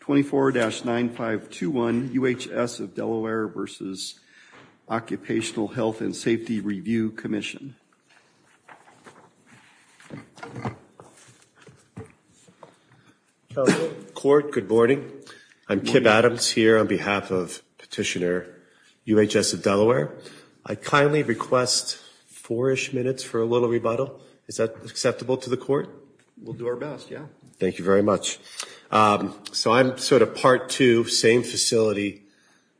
24-9521 UHS of Delaware v. Occupational Health and Safety Review Commission. Court, good morning. I'm Kim Adams here on behalf of Petitioner UHS of Delaware. I kindly request four-ish minutes for a little rebuttal. Is that acceptable to the court? We'll do our best, yeah. Thank you very much. So I'm sort of part two, same facility,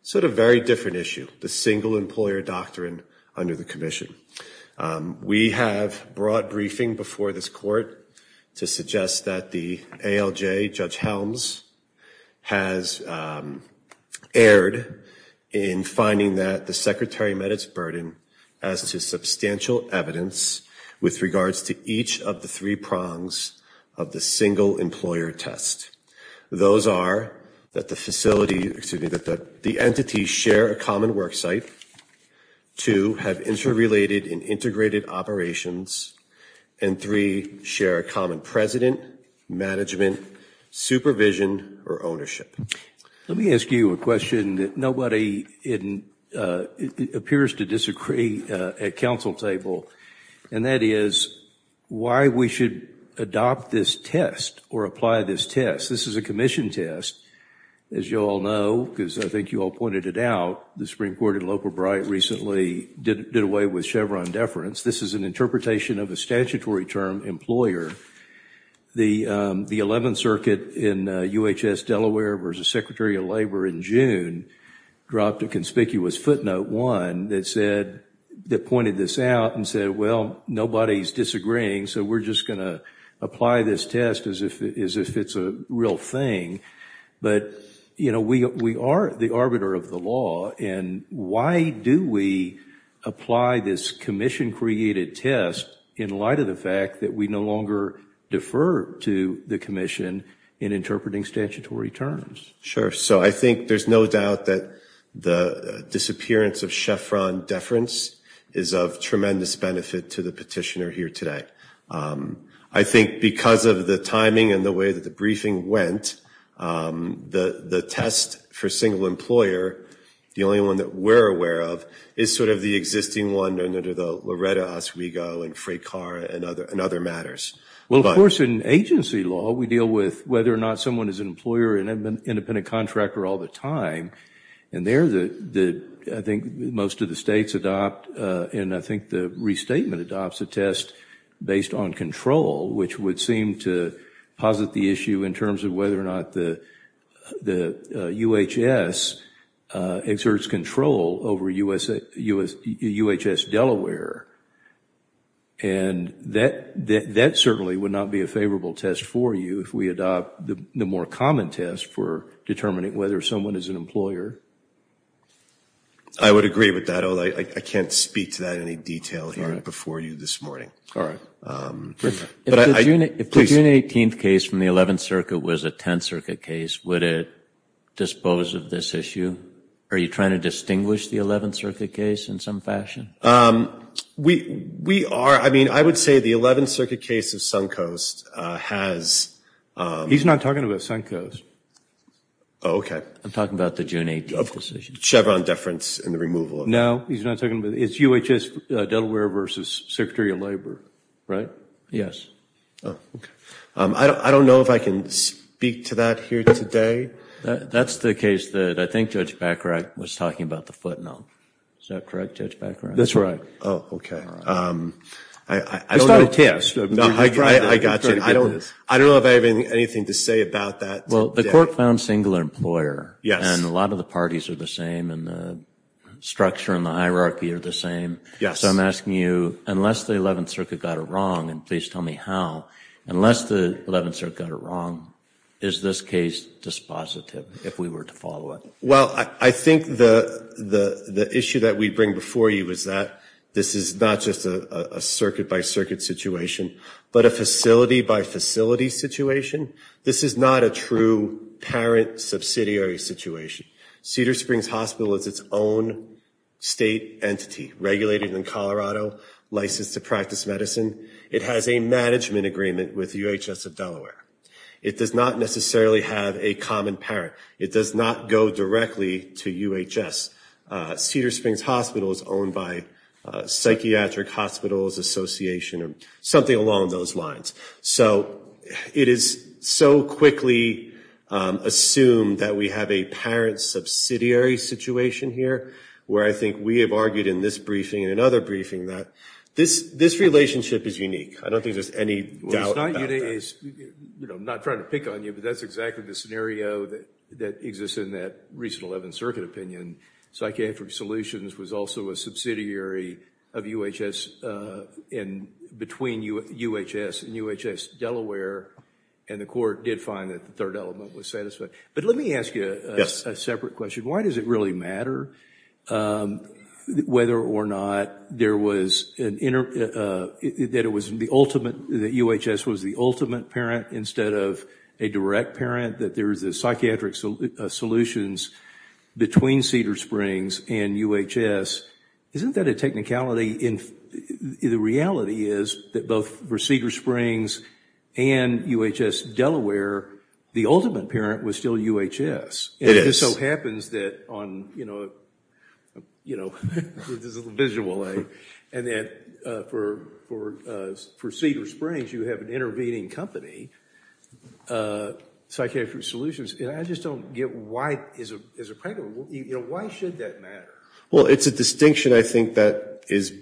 sort of very different issue, the single employer doctrine under the commission. We have brought briefing before this court to suggest that the ALJ, Judge Helms, has erred in finding that the secretary met its burden as to substantial evidence with regards to each of the three prongs of the single employer test. Those are that the facility, excuse me, that the entities share a common worksite, two, have interrelated and integrated operations, and three, share a common president, management, supervision, or ownership. Let me ask you a question that nobody appears to disagree at council table, and that is why we should adopt this test or apply this test. This is a commission test. As you all know, because I think you all pointed it out, the Supreme Court in Local Bright recently did away with Chevron deference. This is an interpretation of a statutory term, employer. The 11th Circuit in UHS Delaware versus Secretary of Labor in June dropped a conspicuous footnote, one, that said, that pointed this out and said, well, nobody's disagreeing, so we're just going to apply this test as if it's a real thing. But, you know, we are the arbiter of the law, and why do we apply this commission-created test in light of the fact that we no longer defer to the commission in interpreting statutory terms? Sure. So I think there's no doubt that the disappearance of Chevron deference is of tremendous benefit to the petitioner here today. I think because of the timing and the way that the briefing went, the test for single employer, the only one that we're aware of, is sort of the existing one under the Loretta Oswego and Fray Carr and other matters. Well, of course, in agency law, we deal with whether or not someone is an employer and an independent contractor all the time. And there, I think most of the states adopt, and I think the restatement adopts a test based on control, which would seem to posit the issue in terms of whether or not the UHS exerts control over UHS Delaware. And that certainly would not be a favorable test for you if we adopt the more common test for determining whether someone is an employer. I would agree with that, although I can't speak to that in any detail here before you this morning. All right. If the June 18th case from the 11th Circuit was a 10th Circuit case, would it dispose of this issue? Are you trying to distinguish the 11th Circuit case in some fashion? We are. I mean, I would say the 11th Circuit case of Suncoast has- He's not talking about Suncoast. Oh, okay. I'm talking about the June 18th decision. Chevron deference in the removal of- No, he's not talking about- it's UHS Delaware versus Secretary of Labor, right? Yes. Oh, okay. I don't know if I can speak to that here today. That's the case that I think Judge Bacharach was talking about the footnote. Is that correct, Judge Bacharach? That's right. Oh, okay. I don't know- It's not a test. I got you. I don't know if I have anything to say about that today. Well, the court found single employer. Yes. And a lot of the parties are the same and the structure and the hierarchy are the same. Yes. So I'm asking you, unless the 11th Circuit got it wrong, and please tell me how, unless the 11th Circuit got it wrong, is this case dispositive if we were to follow it? Well, I think the issue that we bring before you is that this is not just a circuit-by-circuit situation, but a facility-by-facility situation. This is not a true parent subsidiary situation. Cedar Springs Hospital is its own state entity, regulated in Colorado, licensed to practice medicine. It has a management agreement with UHS of Delaware. It does not necessarily have a common parent. It does not go directly to UHS. Cedar Springs Hospital is owned by Psychiatric Hospitals Association or something along those lines. So it is so quickly assumed that we have a parent subsidiary situation here, where I think we have argued in this briefing and another briefing that this relationship is unique. I don't think there's any doubt about that. Well, it's not unique. I'm not trying to pick on you, but that's exactly the scenario that exists in that recent 11th Circuit opinion. Psychiatric Solutions was also a subsidiary of UHS and between UHS and UHS Delaware, and the court did find that the third element was satisfied. But let me ask you a separate question. Why does it really matter whether or not UHS was the ultimate parent instead of a direct parent, that there is a Psychiatric Solutions between Cedar Springs and UHS? Isn't that a technicality? The reality is that both for Cedar Springs and UHS Delaware, the ultimate parent was still UHS. It just so happens that for Cedar Springs, you have an intervening company, Psychiatric Solutions. I just don't get why, as a parent, why should that matter? Well, it's a distinction, I think, that is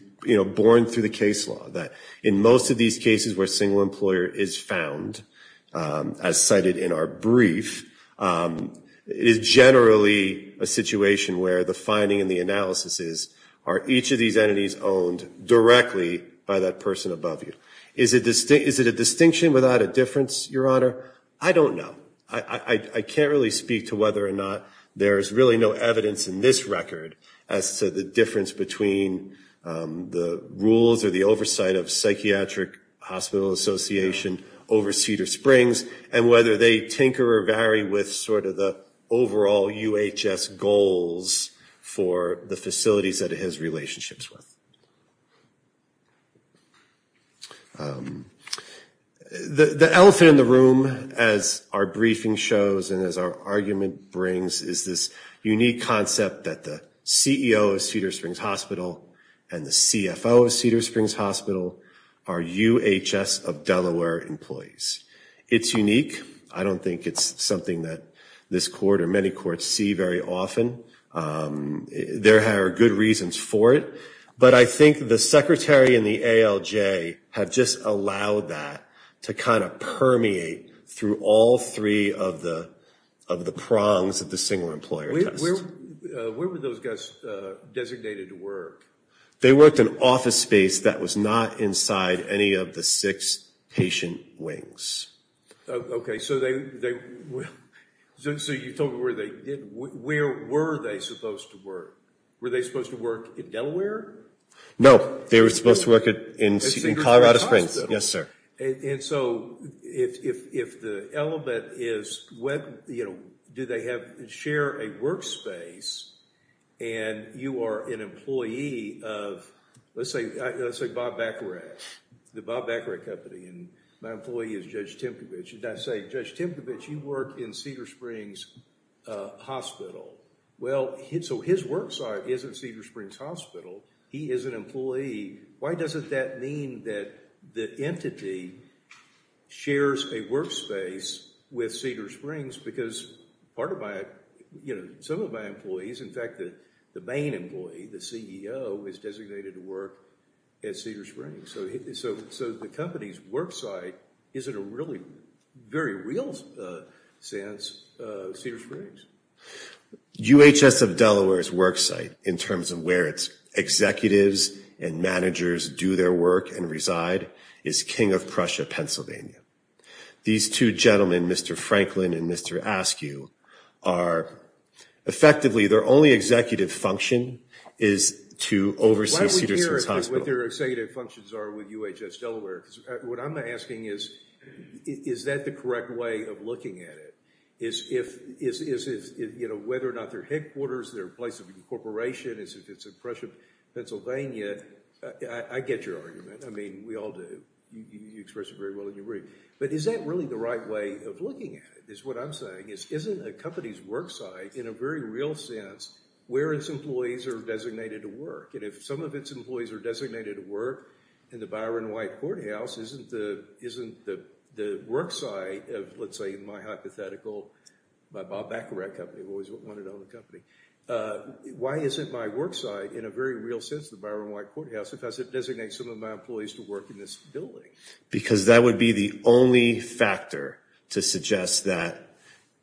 born through the case law, that in most of these cases where a single employer is found, as cited in our brief, it is generally a situation where the finding and the analysis is, are each of these entities owned directly by that person above you? Is it a distinction without a difference, Your Honor? I don't know. I can't really speak to whether or not there is really no evidence in this record as to the difference between the rules or the oversight of Psychiatric Hospital Association over Cedar Springs and whether they tinker or vary with sort of the overall UHS goals for the facilities that it has relationships with. The elephant in the room, as our briefing shows and as our argument brings, is this unique concept that the CEO of Cedar Springs Hospital and the CFO of Cedar Springs Hospital are UHS of Delaware employees. It's unique. I don't think it's something that this court or many courts see very often. There are good reasons for it. But I think the secretary and the ALJ have just allowed that to kind of permeate through all three of the prongs of the single employer test. Where were those guys designated to work? They worked in office space that was not inside any of the six patient wings. Okay. So you told me where they did. Where were they supposed to work? Were they supposed to work in Delaware? No. They were supposed to work in Colorado Springs. Yes, sir. And so if the element is do they share a work space and you are an employee of let's say Bob Baccarat, the Bob Baccarat Company, and my employee is Judge Timkovich. And I say, Judge Timkovich, you work in Cedar Springs Hospital. Well, so his work site is in Cedar Springs Hospital. He is an employee. Why doesn't that mean that the entity shares a work space with Cedar Springs? Because part of my – some of my employees, in fact, the main employee, the CEO, is designated to work at Cedar Springs. So the company's work site is in a really very real sense Cedar Springs. UHS of Delaware's work site in terms of where its executives and managers do their work and reside is King of Prussia, Pennsylvania. These two gentlemen, Mr. Franklin and Mr. Askew, are – effectively their only executive function is to oversee Cedar Springs Hospital. Why don't we hear what their executive functions are with UHS Delaware? Because what I'm asking is, is that the correct way of looking at it? Whether or not they're headquarters, they're a place of incorporation, it's in Prussia, Pennsylvania. I get your argument. I mean, we all do. You expressed it very well in your brief. But is that really the right way of looking at it is what I'm saying. Isn't a company's work site in a very real sense where its employees are designated to work? And if some of its employees are designated to work in the Byron White Courthouse, isn't the work site of, let's say, my hypothetical, my Bob Baccarat company, I've always wanted my own company. Why isn't my work site in a very real sense the Byron White Courthouse if I said designate some of my employees to work in this building? Because that would be the only factor to suggest that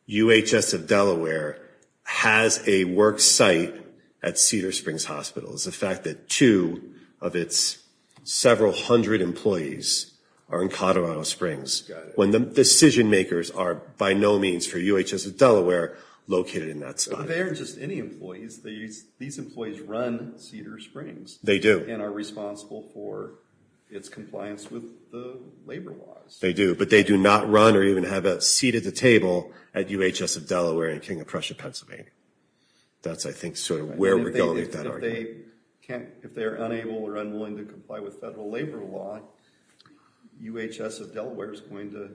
UHS of Delaware has a work site at Cedar Springs Hospital. It's the fact that two of its several hundred employees are in Colorado Springs. Got it. When the decision makers are by no means for UHS of Delaware located in that site. They aren't just any employees. These employees run Cedar Springs. They do. And are responsible for its compliance with the labor laws. They do. But they do not run or even have a seat at the table at UHS of Delaware in King of Prussia, Pennsylvania. That's, I think, sort of where we're going with that argument. If they're unable or unwilling to comply with federal labor law, UHS of Delaware is going to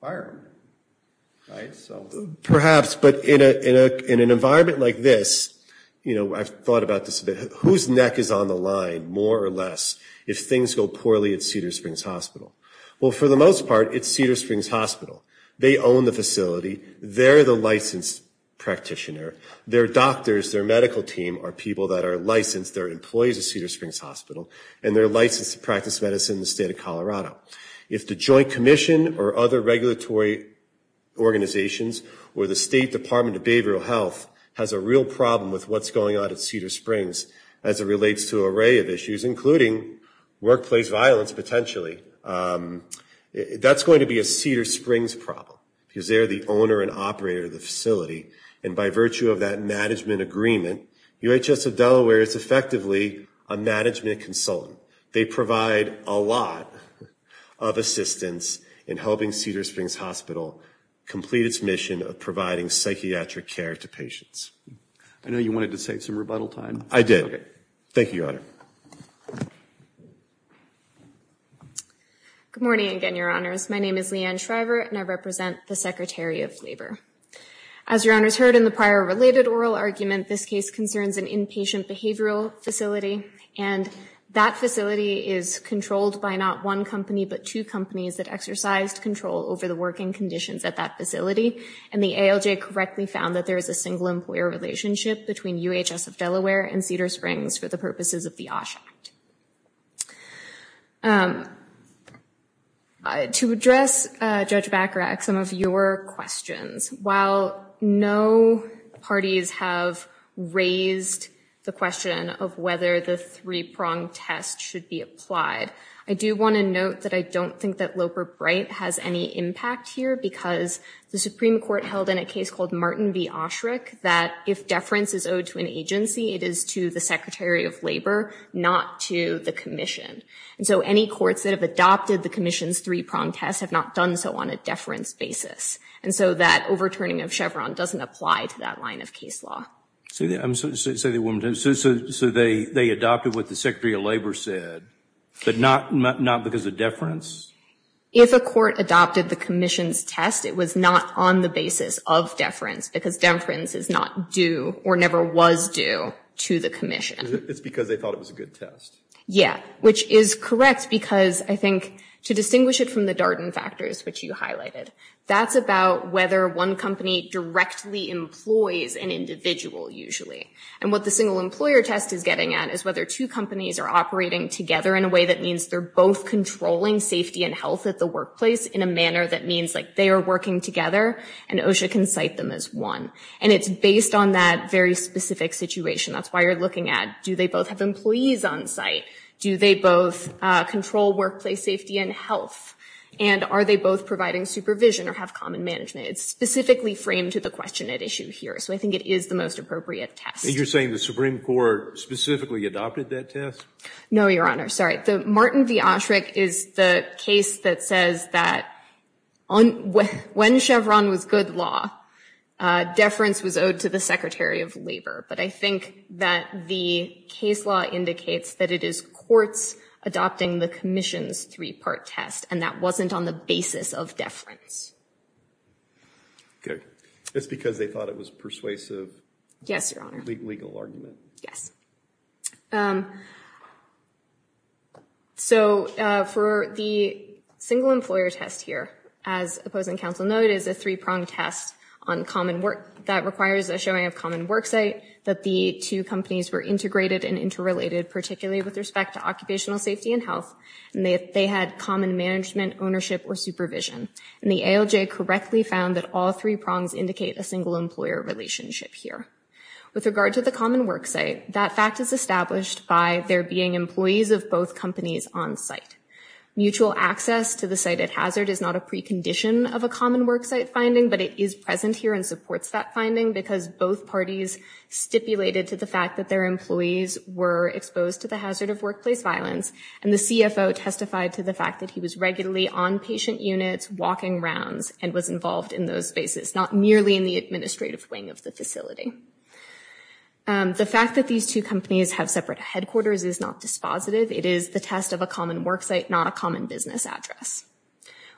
fire them. Perhaps. But in an environment like this, you know, I've thought about this a bit. Whose neck is on the line, more or less, if things go poorly at Cedar Springs Hospital? Well, for the most part, it's Cedar Springs Hospital. They own the facility. They're the licensed practitioner. Their doctors, their medical team are people that are licensed. They're employees of Cedar Springs Hospital. And they're licensed to practice medicine in the state of Colorado. If the Joint Commission or other regulatory organizations or the State Department of Behavioral Health has a real problem with what's going on at Cedar Springs, as it relates to an array of issues, including workplace violence, potentially, that's going to be a Cedar Springs problem. Because they're the owner and operator of the facility. And by virtue of that management agreement, UHS of Delaware is effectively a management consultant. They provide a lot of assistance in helping Cedar Springs Hospital complete its mission of providing psychiatric care to patients. I know you wanted to save some rebuttal time. I did. Thank you, Your Honor. Good morning again, Your Honors. My name is Leanne Shriver, and I represent the Secretary of Labor. As Your Honors heard in the prior related oral argument, this case concerns an inpatient behavioral facility. And that facility is controlled by not one company, but two companies that exercised control over the working conditions at that facility. And the ALJ correctly found that there is a single employer relationship between UHS of Delaware and Cedar Springs for the purposes of the OSH Act. To address, Judge Bacharach, some of your questions. While no parties have raised the question of whether the three-pronged test should be applied, I do want to note that I don't think that Loper-Bright has any impact here, because the Supreme Court held in a case called Martin v. Osherick that if deference is owed to an agency, it is to the Secretary of Labor, not to the Commission. And so any courts that have adopted the Commission's three-pronged test have not done so on a deference basis. And so that overturning of Chevron doesn't apply to that line of case law. So they adopted what the Secretary of Labor said, but not because of deference? If a court adopted the Commission's test, it was not on the basis of deference, because deference is not due or never was due to the Commission. It's because they thought it was a good test. Yeah, which is correct, because I think to distinguish it from the Darden factors, which you highlighted, that's about whether one company directly employs an individual, usually. And what the single employer test is getting at is whether two companies are operating together in a way that means they're both controlling safety and health at the workplace in a manner that means they are working together and OSHA can cite them as one. And it's based on that very specific situation. That's why you're looking at do they both have employees on site? Do they both control workplace safety and health? And are they both providing supervision or have common management? It's specifically framed to the question at issue here, so I think it is the most appropriate test. And you're saying the Supreme Court specifically adopted that test? No, Your Honor. Sorry. The Martin v. Osherick is the case that says that when Chevron was good law, deference was owed to the Secretary of Labor. But I think that the case law indicates that it is courts adopting the Commission's three-part test, and that wasn't on the basis of deference. Good. It's because they thought it was persuasive. Yes, Your Honor. Legal argument. Yes. So for the single employer test here, as opposing counsel noted, is a three-pronged test that requires a showing of common worksite, that the two companies were integrated and interrelated, particularly with respect to occupational safety and health, and they had common management, ownership, or supervision. And the ALJ correctly found that all three prongs indicate a single employer relationship here. With regard to the common worksite, that fact is established by there being employees of both companies on site. Mutual access to the site at hazard is not a precondition of a common worksite finding, but it is present here and supports that finding, because both parties stipulated to the fact that their employees were exposed to the hazard of workplace violence, and the CFO testified to the fact that he was regularly on patient units, walking rounds, and was involved in those spaces, not merely in the administrative wing of the facility. The fact that these two companies have separate headquarters is not dispositive. It is the test of a common worksite, not a common business address.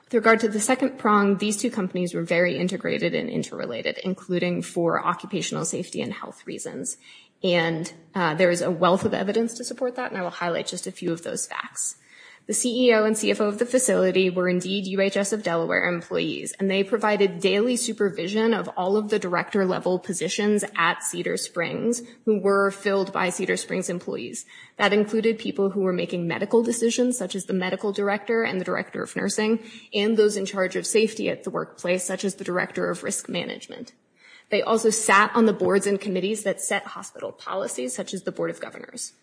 With regard to the second prong, these two companies were very integrated and interrelated, including for occupational safety and health reasons, and there is a wealth of evidence to support that, and I will highlight just a few of those facts. The CEO and CFO of the facility were indeed UHS of Delaware employees, and they provided daily supervision of all of the director-level positions at Cedar Springs who were filled by Cedar Springs employees. That included people who were making medical decisions, such as the medical director and the director of nursing, and those in charge of safety at the workplace, such as the director of risk management. They also sat on the boards and committees that set hospital policies, such as the board of governors.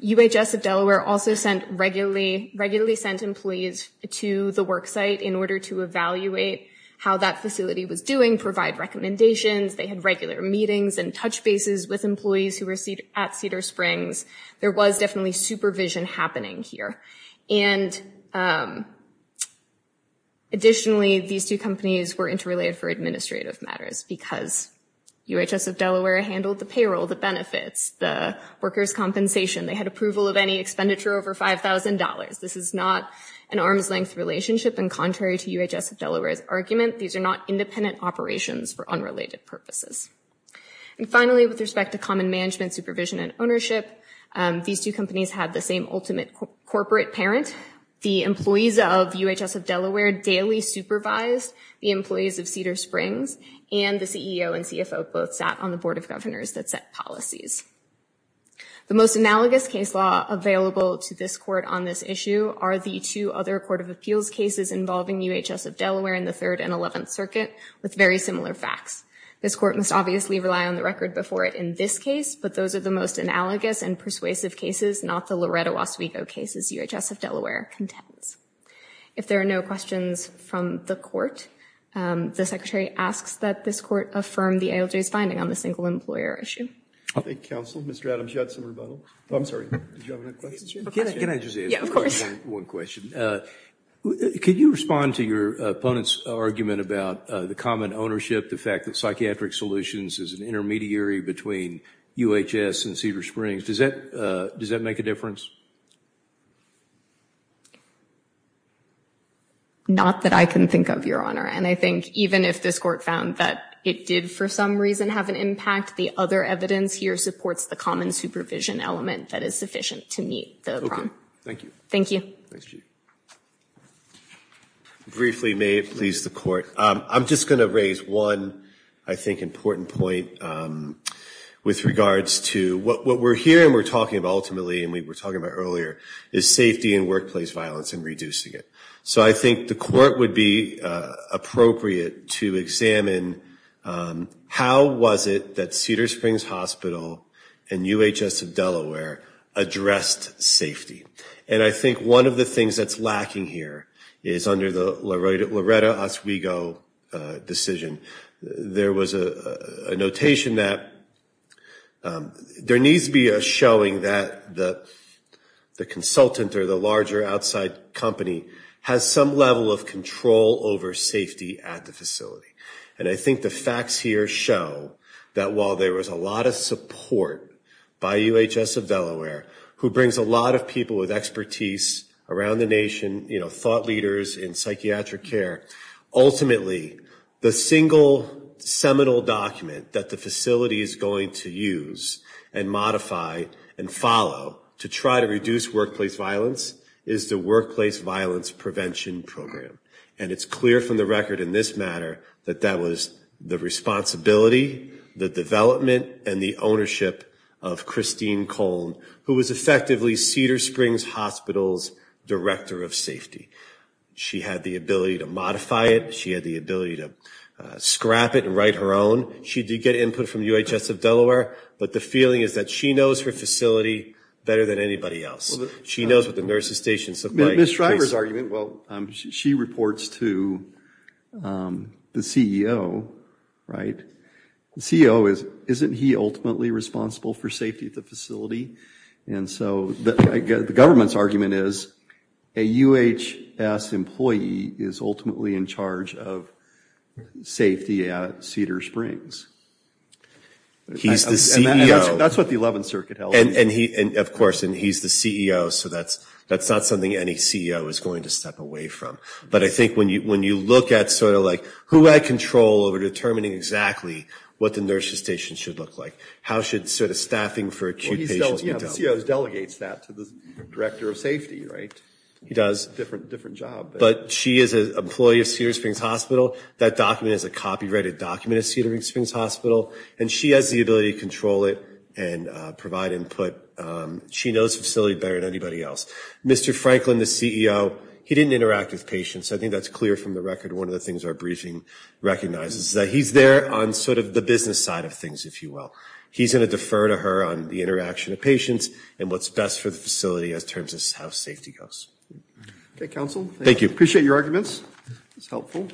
UHS of Delaware also regularly sent employees to the worksite in order to evaluate how that facility was doing, provide recommendations. They had regular meetings and touch bases with employees who were at Cedar Springs. There was definitely supervision happening here, and additionally, these two companies were interrelated for administrative matters because UHS of Delaware handled the payroll, the benefits, the workers' compensation. They had approval of any expenditure over $5,000. This is not an arm's-length relationship, and contrary to UHS of Delaware's argument, these are not independent operations for unrelated purposes. And finally, with respect to common management, supervision, and ownership, these two companies had the same ultimate corporate parent. The employees of UHS of Delaware daily supervised the employees of Cedar Springs, and the CEO and CFO both sat on the board of governors that set policies. The most analogous case law available to this court on this issue are the two other court of appeals cases involving UHS of Delaware in the Third and Eleventh Circuit with very similar facts. This court must obviously rely on the record before it in this case, but those are the most analogous and persuasive cases, not the Loretta Waswego cases UHS of Delaware contends. If there are no questions from the court, the secretary asks that this court affirm the ALJ's finding on the single-employer issue. Thank you, counsel. Mr. Adams, you had some rebuttals? I'm sorry, did you have any questions? Can I just ask one question? Could you respond to your opponent's argument about the common ownership, the fact that Psychiatric Solutions is an intermediary between UHS and Cedar Springs? Does that make a difference? Not that I can think of, Your Honor, and I think even if this court found that it did for some reason have an impact, the other evidence here supports the common supervision element that is sufficient to meet the problem. Thank you. Briefly, may it please the court. I'm just going to raise one, I think, important point with regards to what we're hearing, and we were talking about earlier, is safety in workplace violence and reducing it. So I think the court would be appropriate to examine, how was it that Cedar Springs Hospital and UHS of Delaware addressed safety? And I think one of the things that's lacking here is under the Loretta Waswego decision, there was a notation that there needs to be a showing that the consultant or the larger outside company has some level of control over safety at the facility. And I think the facts here show that while there was a lot of support by UHS of Delaware, who brings a lot of people with expertise around the nation, you know, thought leaders in psychiatric care, ultimately the single seminal document that the facility is going to use and modify and follow to try to reduce workplace violence is the Workplace Violence Prevention Program. And it's clear from the record in this matter that that was the responsibility, the development and the ownership of Christine Cohn, who was effectively Cedar Springs Hospital's Director of Safety. She had the ability to modify it. She had the ability to scrap it and write her own. She did get input from UHS of Delaware, but the feeling is that she knows her facility better than anybody else. She knows what the nurse's station is supplying. Ms. Shriver's argument, well, she reports to the CEO, right? The CEO, isn't he ultimately responsible for safety at the facility? And so the government's argument is a UHS employee is ultimately in charge of safety at Cedar Springs. He's the CEO. That's what the 11th Circuit held. And of course, he's the CEO, so that's not something any CEO is going to step away from. But I think when you look at sort of like who had control over determining exactly what the nurse's station should look like, how should sort of staffing for acute patients be done? Well, the CEO delegates that to the Director of Safety, right? He does, but she is an employee of Cedar Springs Hospital. That document is a copyrighted document at Cedar Springs Hospital, and she has the ability to control it and provide input. She knows the facility better than anybody else. Mr. Franklin, the CEO, he didn't interact with patients. I think that's clear from the record. One of the things our briefing recognizes is that he's there on sort of the business side of things, if you will. He's going to defer to her on the interaction of patients and what's best for the facility as terms of how safety goes. Thank you. Appreciate your arguments. It's helpful.